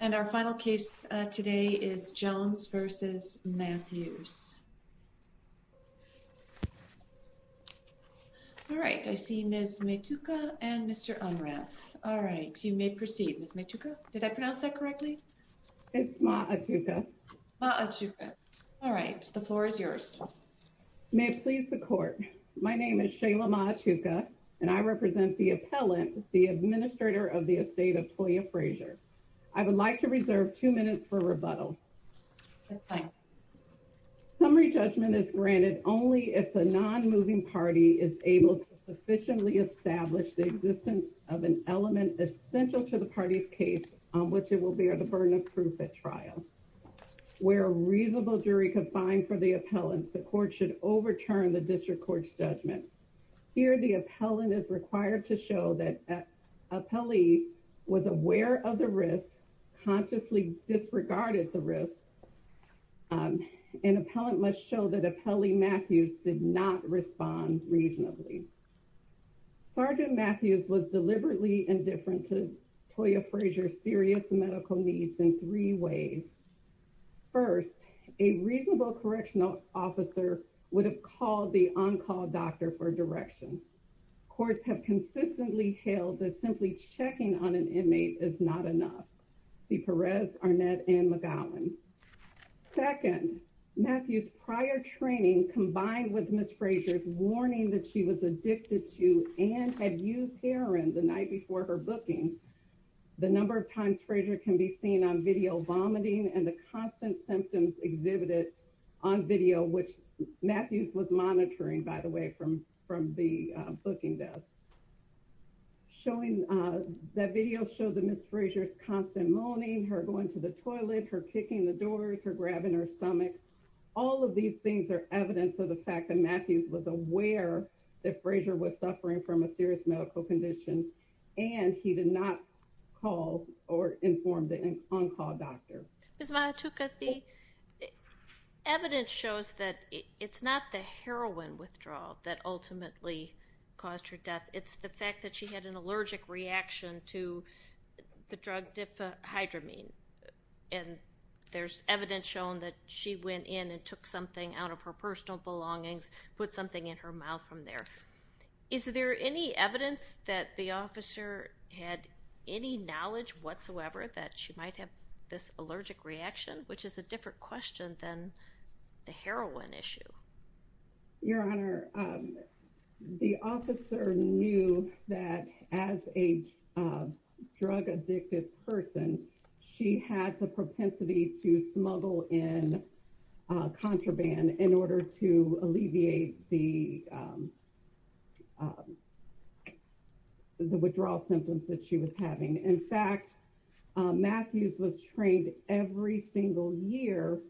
And our final case today is Jones v. Mathews. All right, I see Ms. Maytuka and Mr. Umrath. All right, you may proceed. Ms. Maytuka, did I pronounce that correctly? It's Ma-a-tuka. Ma-a-tuka. All right, the floor is yours. May it please the court, my name is Shayla Ma-a-tuka and I represent the appellant, the administrator of the estate of Toya Frazier. I would like to reserve two minutes for rebuttal. Summary judgment is granted only if the non-moving party is able to sufficiently establish the existence of an element essential to the party's case on which it will bear the burden of proof at trial. Where a reasonable jury could find for the appellants, the court should appellee was aware of the risk, consciously disregarded the risk. An appellant must show that appellee Mathews did not respond reasonably. Sergeant Mathews was deliberately indifferent to Toya Frazier's serious medical needs in three ways. First, a reasonable correctional officer would have called the on-call doctor for direction. Courts have consistently hailed that simply checking on an inmate is not enough. C. Perez, Arnett, and McGowan. Second, Mathews prior training combined with Ms. Frazier's warning that she was addicted to and had used heroin the night before her booking. The number of times Frazier can be seen on video vomiting and the constant symptoms exhibited on video, which Mathews was monitoring, by the way, from the booking desk. That video showed that Ms. Frazier's constant moaning, her going to the toilet, her kicking the doors, her grabbing her stomach. All of these things are evidence of the fact that Mathews was aware that Frazier was suffering from a serious medical condition and he did not call or inform the on-call doctor. Ms. Mahatuka, the evidence shows that it's not the heroin withdrawal that ultimately caused her death. It's the fact that she had an allergic reaction to the drug difhydramine and there's evidence shown that she went in and took something out of her personal belongings, put something in her mouth from there. Is there any evidence that the officer had any knowledge whatsoever that she might have this allergic reaction, which is a different question than the heroin issue? Your Honor, the officer knew that as a drug-addicted person, she had the propensity to smuggle in contraband in order to alleviate the withdrawal symptoms that she was having. In fact, Mathews was trained every single year.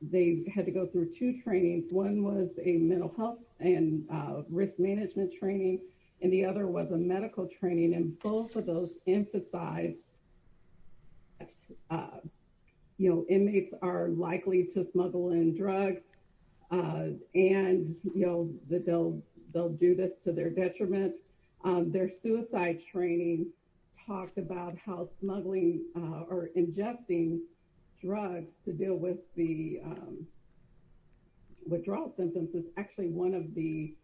They had to go through two trainings. One was a mental health and risk management training and the other was a medical training. Both of those emphasize that inmates are likely to smuggle in drugs and that they'll do this to their detriment. Their suicide training talked about how smuggling or ingesting drugs to deal with the withdrawal symptoms is actually one of the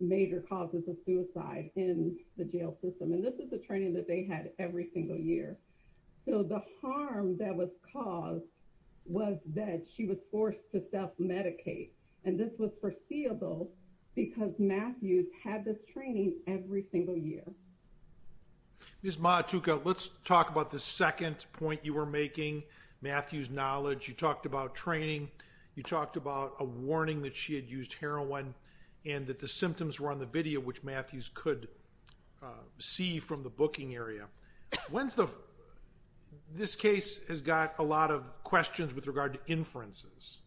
major causes of suicide in the jail system. This is a training that they had every single year. So the harm that was caused was that she was forced to self-medicate and this was foreseeable because Mathews had this training every single year. Ms. Mahatuka, let's talk about the second point you were making, Mathews' knowledge. You talked about training. You talked about a warning that she had used heroin and that the symptoms were on the video, which Mathews could see from the booking area. This case has got a lot of questions with regard to inferences.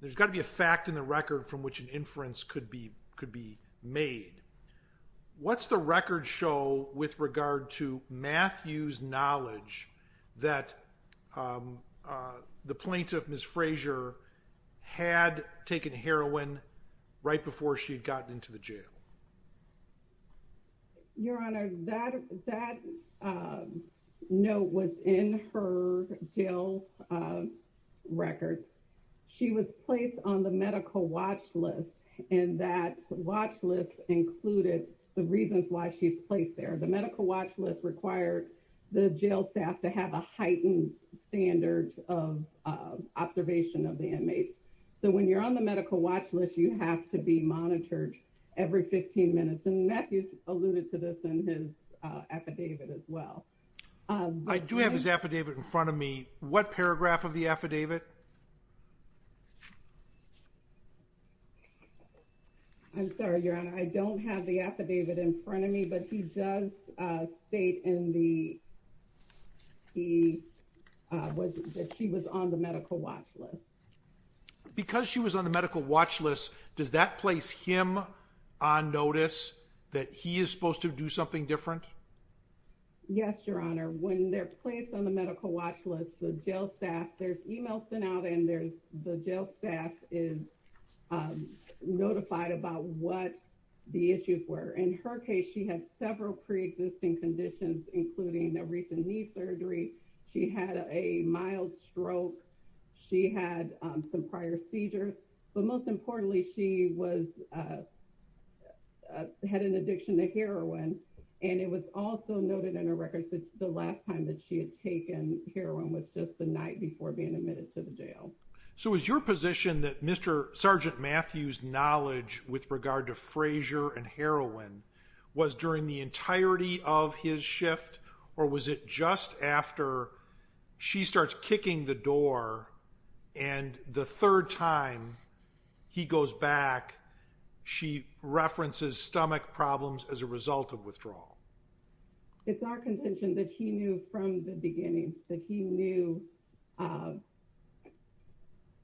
There's got to be a fact in the record from which an inference could be made. What's the record show with regard to Mathews' knowledge that the plaintiff, Ms. Frazier, had taken heroin right before she'd gotten into the jail? Your Honor, that note was in her jail records. She was placed on the medical watch list and that watch list included the reasons why she's placed there. The medical watch list required the jail staff to have a heightened standard of observation of the inmates. So when you're on the medical watch list, you have to be monitored every 15 minutes. Mathews alluded to this in his affidavit as well. I do have his affidavit in front of me. What paragraph of the affidavit? I'm sorry, Your Honor. I don't have the affidavit in front of me, but he does state that she was on the medical watch list. Because she was on the medical watch list, does that place him on notice that he is supposed to do something different? Yes, Your Honor. When they're placed on the medical watch list, the jail staff, there's emails sent out and the jail staff is notified about what the issues were. In her case, she had some prior seizures, but most importantly, she had an addiction to heroin and it was also noted in her records that the last time that she had taken heroin was just the night before being admitted to the jail. So is your position that Mr. Sergeant Mathews' knowledge with regard to Frazier and heroin was during the entirety of his shift or was it just after she starts kicking the the third time he goes back, she references stomach problems as a result of withdrawal? It's our contention that he knew from the beginning that he knew, you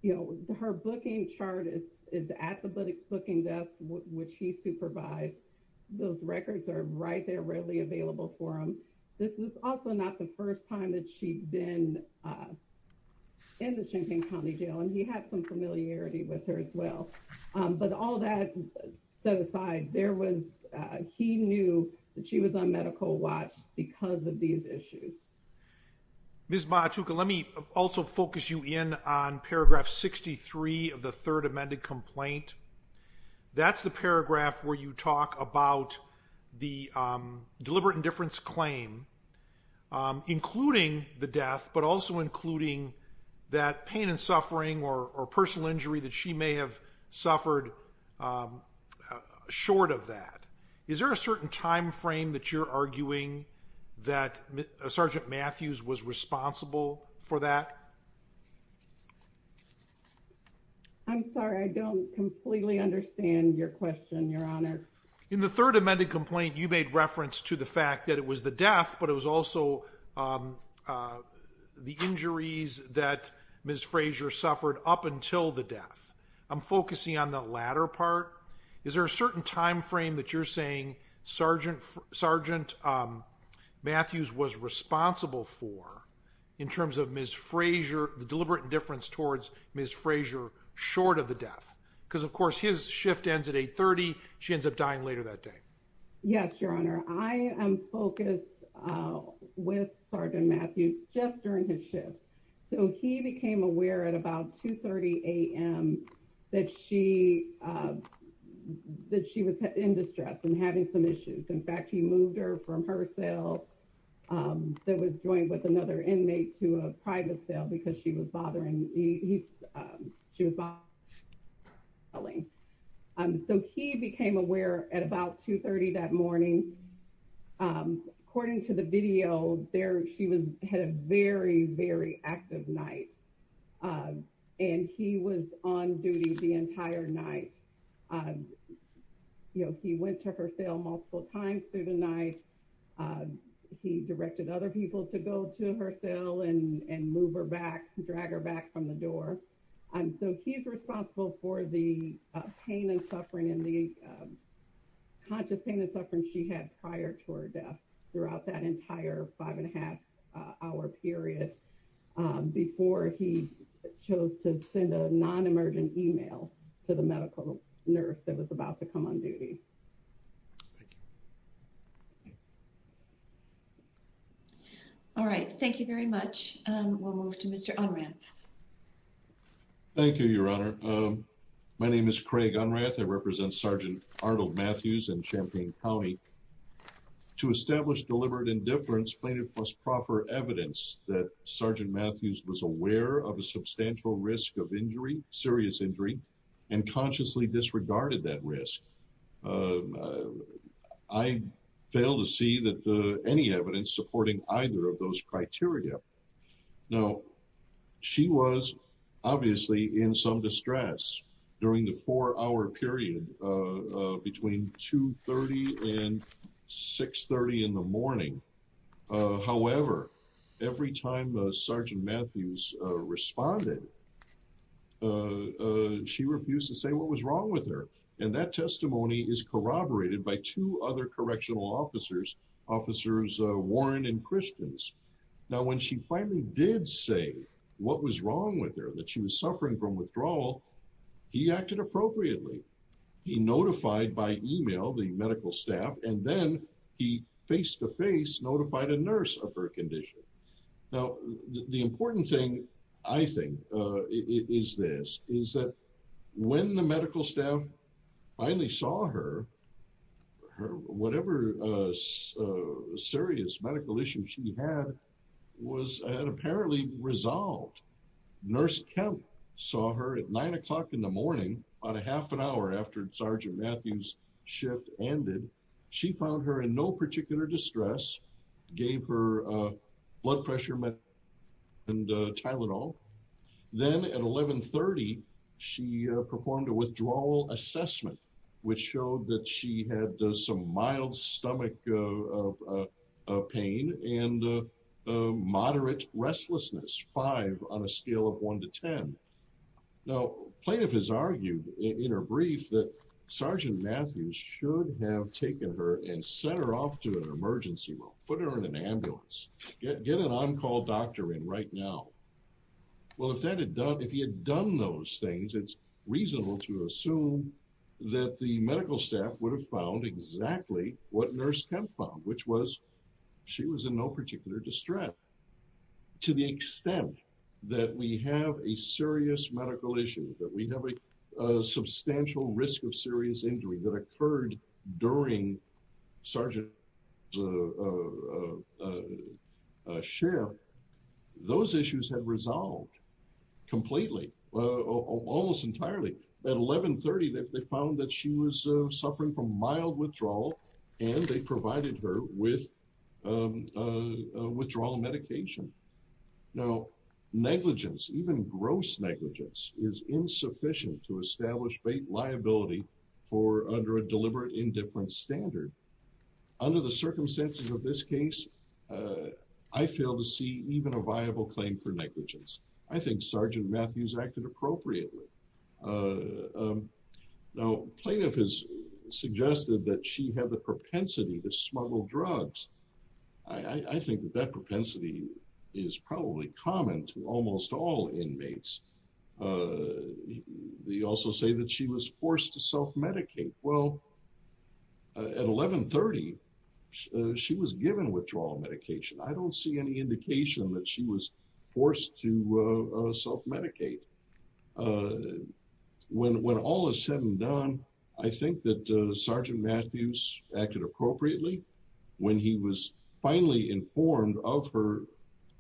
know, her booking chart is at the booking desk, which he supervised. Those records are right there readily available for him. This is also not the first time that she's been in the Champaign County Jail and he had some familiarity with her as well. But all that set aside, there was, he knew that she was on medical watch because of these issues. Ms. Mauchuka, let me also focus you in on paragraph 63 of the third amended complaint. That's the paragraph where you talk about the deliberate indifference claim, including the death, but also including that pain and suffering or personal injury that she may have suffered short of that. Is there a certain time frame that you're arguing that Sergeant Mathews was responsible for that? I'm sorry, I don't completely understand your question, Your Honor. In the third amended complaint, you made reference to the fact that it was the death, but it was also the injuries that Ms. Frazier suffered up until the death. I'm focusing on the latter part. Is there a certain time frame that you're saying Sergeant Mathews was responsible for in terms of Ms. Frazier, the deliberate indifference towards Ms. Frazier short of the she ends up dying later that day? Yes, Your Honor. I am focused with Sergeant Mathews just during his shift. So he became aware at about 2.30 a.m. that she was in distress and having some issues. In fact, he moved her from her cell that was joined with another inmate to a private cell because she was bothering. She was bothering. So he became aware at about 2.30 that morning. According to the video there, she had a very, very active night and he was on duty the entire night. You know, he went to her cell multiple times through the night. He directed other people to go to her cell and move her back, drag her back from the door. And so he's responsible for the pain and suffering and the conscious pain and suffering she had prior to her death throughout that entire five and a half hour period before he chose to send a non-emergent email to the medical nurse that was about to come on duty. All right. Thank you very much. We'll move to Mr. Unrath. Thank you, Your Honor. My name is Craig Unrath. I represent Sergeant Arnold Mathews in Champaign County. To establish deliberate indifference, plaintiff must proffer evidence that Sergeant Mathews was aware of a substantial risk of injury, serious injury, and consciously disregarded that risk. I fail to see that any evidence supporting either of those criteria. Now, she was obviously in some distress during the four hour period between 2.30 and 6.30 in the morning. However, every time Sergeant Mathews responded, she refused to say what was wrong with her. And that testimony is corroborated by two other correctional officers, Officers Warren and Christians. Now, when she finally did say what was wrong with her, that she was suffering from withdrawal, he acted appropriately. He notified by email the medical staff, and then he face-to-face notified a nurse of her condition. Now, the important thing, I think, is this, is that when the medical staff finally saw her, whatever serious medical issue she had was apparently resolved. Nurse Kemp saw her at nine o'clock in the morning, about a half an hour after Sergeant Mathews' shift ended. She found her in no particular distress, gave her blood pressure meds, and Tylenol. Then at 11.30, she performed a withdrawal assessment, which showed that she had some mild stomach pain and moderate restlessness, five on a scale of one to ten. Now, plaintiff has argued in her brief that Sergeant Mathews should have taken her and sent her off to an emergency room, put her in an ambulance, get an on-call doctor in right now. Well, if that had done, if he had done those things, it's reasonable to assume that the medical staff would have found exactly what Nurse Kemp found, which was she was in no particular distress. To the extent that we have a serious medical issue, that we have a substantial risk of serious injury that occurred during Sergeant's shift, those issues have resolved completely, almost entirely. At 11.30, they found that she was suffering from mild withdrawal, and they provided her with a withdrawal medication. Now, negligence, even gross negligence, is insufficient to establish bait liability for under a deliberate indifference standard. Under the circumstances of this case, I fail to see even a viable claim for negligence. I think Sergeant Mathews acted appropriately. Now, plaintiff has suggested that she had the propensity to smuggle drugs. I think that that propensity is probably common to almost all inmates. They also say that she was forced to self-medicate. Well, at 11.30, she was given withdrawal medication. I don't see any indication that she was forced to self-medicate. When all is said and done, I think that Sergeant Mathews acted appropriately. When he was finally informed of her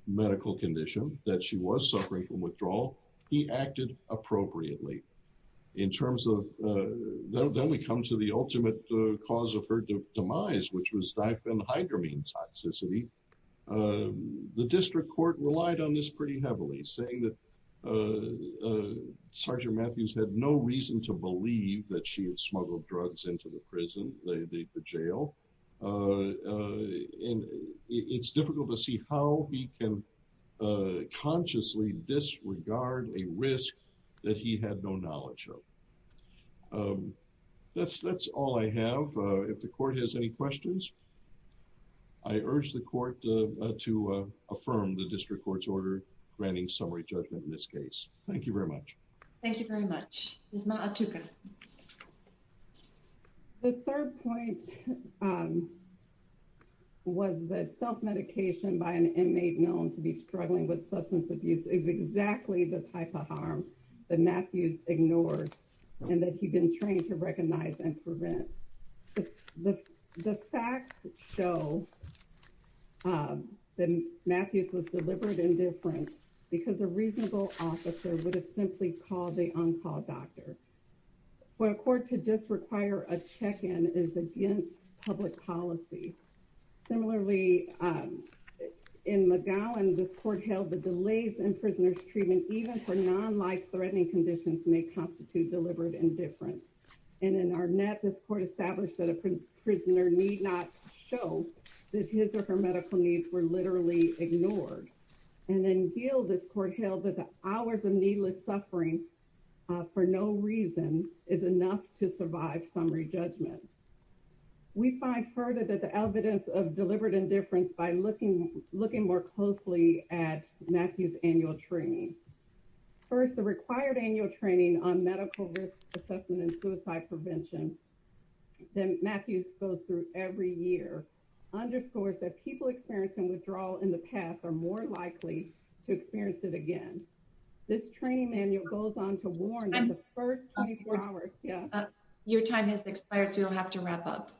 medical condition, that she was suffering from withdrawal, he acted appropriately. Then we come to the ultimate cause of her demise, which was diphenhydramine toxicity. The district court relied on this pretty heavily, saying that Sergeant Mathews had no reason to believe that she had smuggled drugs into the prison, the jail. It's difficult to see how he can consciously disregard a risk that he had no knowledge of. That's all I have. If the court has any questions, I urge the court to affirm the district court's order granting summary judgment in this case. Thank you very much. Thank you very much. Ms. Maatuka. The third point was that self-medication by an inmate known to be struggling with substance abuse is exactly the type of harm that Mathews ignored and that he'd been trained to recognize and prevent. The facts show that Mathews was deliberate and different because a reasonable officer would have simply called the on-call doctor. For a court to just require a check-in is against public policy. Similarly, in McGowan, this court held the delays in prisoner's treatment, even for non-life-threatening conditions, may constitute deliberate indifference. And in Arnett, this court established that a prisoner need not show that his or her medical needs were literally ignored. And in Gill, this court held that the hours of needless suffering for no reason is enough to survive summary judgment. We find further that the evidence of deliberate indifference by looking more closely at Mathews' annual training. First, the required annual training on medical risk assessment and suicide prevention that Mathews goes through every year underscores that people experiencing withdrawal in the past are more likely to experience it again. This training manual goes on to warn that the first 24 hours... Your time has expired, so you'll have to wrap up.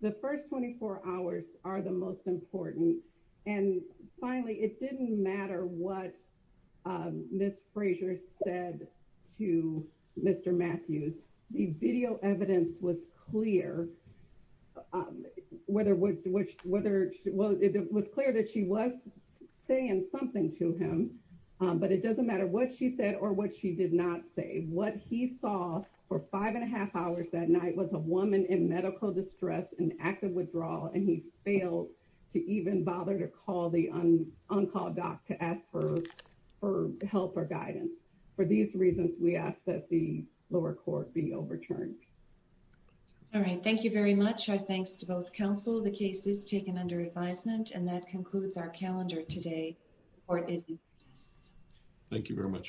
The first 24 hours are the most important. And finally, it didn't matter what Ms. Frazier said to Mr. Mathews. The video evidence was clear that she was saying something to him, but it doesn't matter what she said or what she did not say. What he saw for five and a half hours that night was a woman in medical distress in active withdrawal, and he failed to even bother to call the on-call doc to ask for help or guidance. For these reasons, we ask that the lower court be overturned. All right. Thank you very much. Our thanks to both counsel. The case is taken under advisement, and that concludes our calendar today. Thank you very much.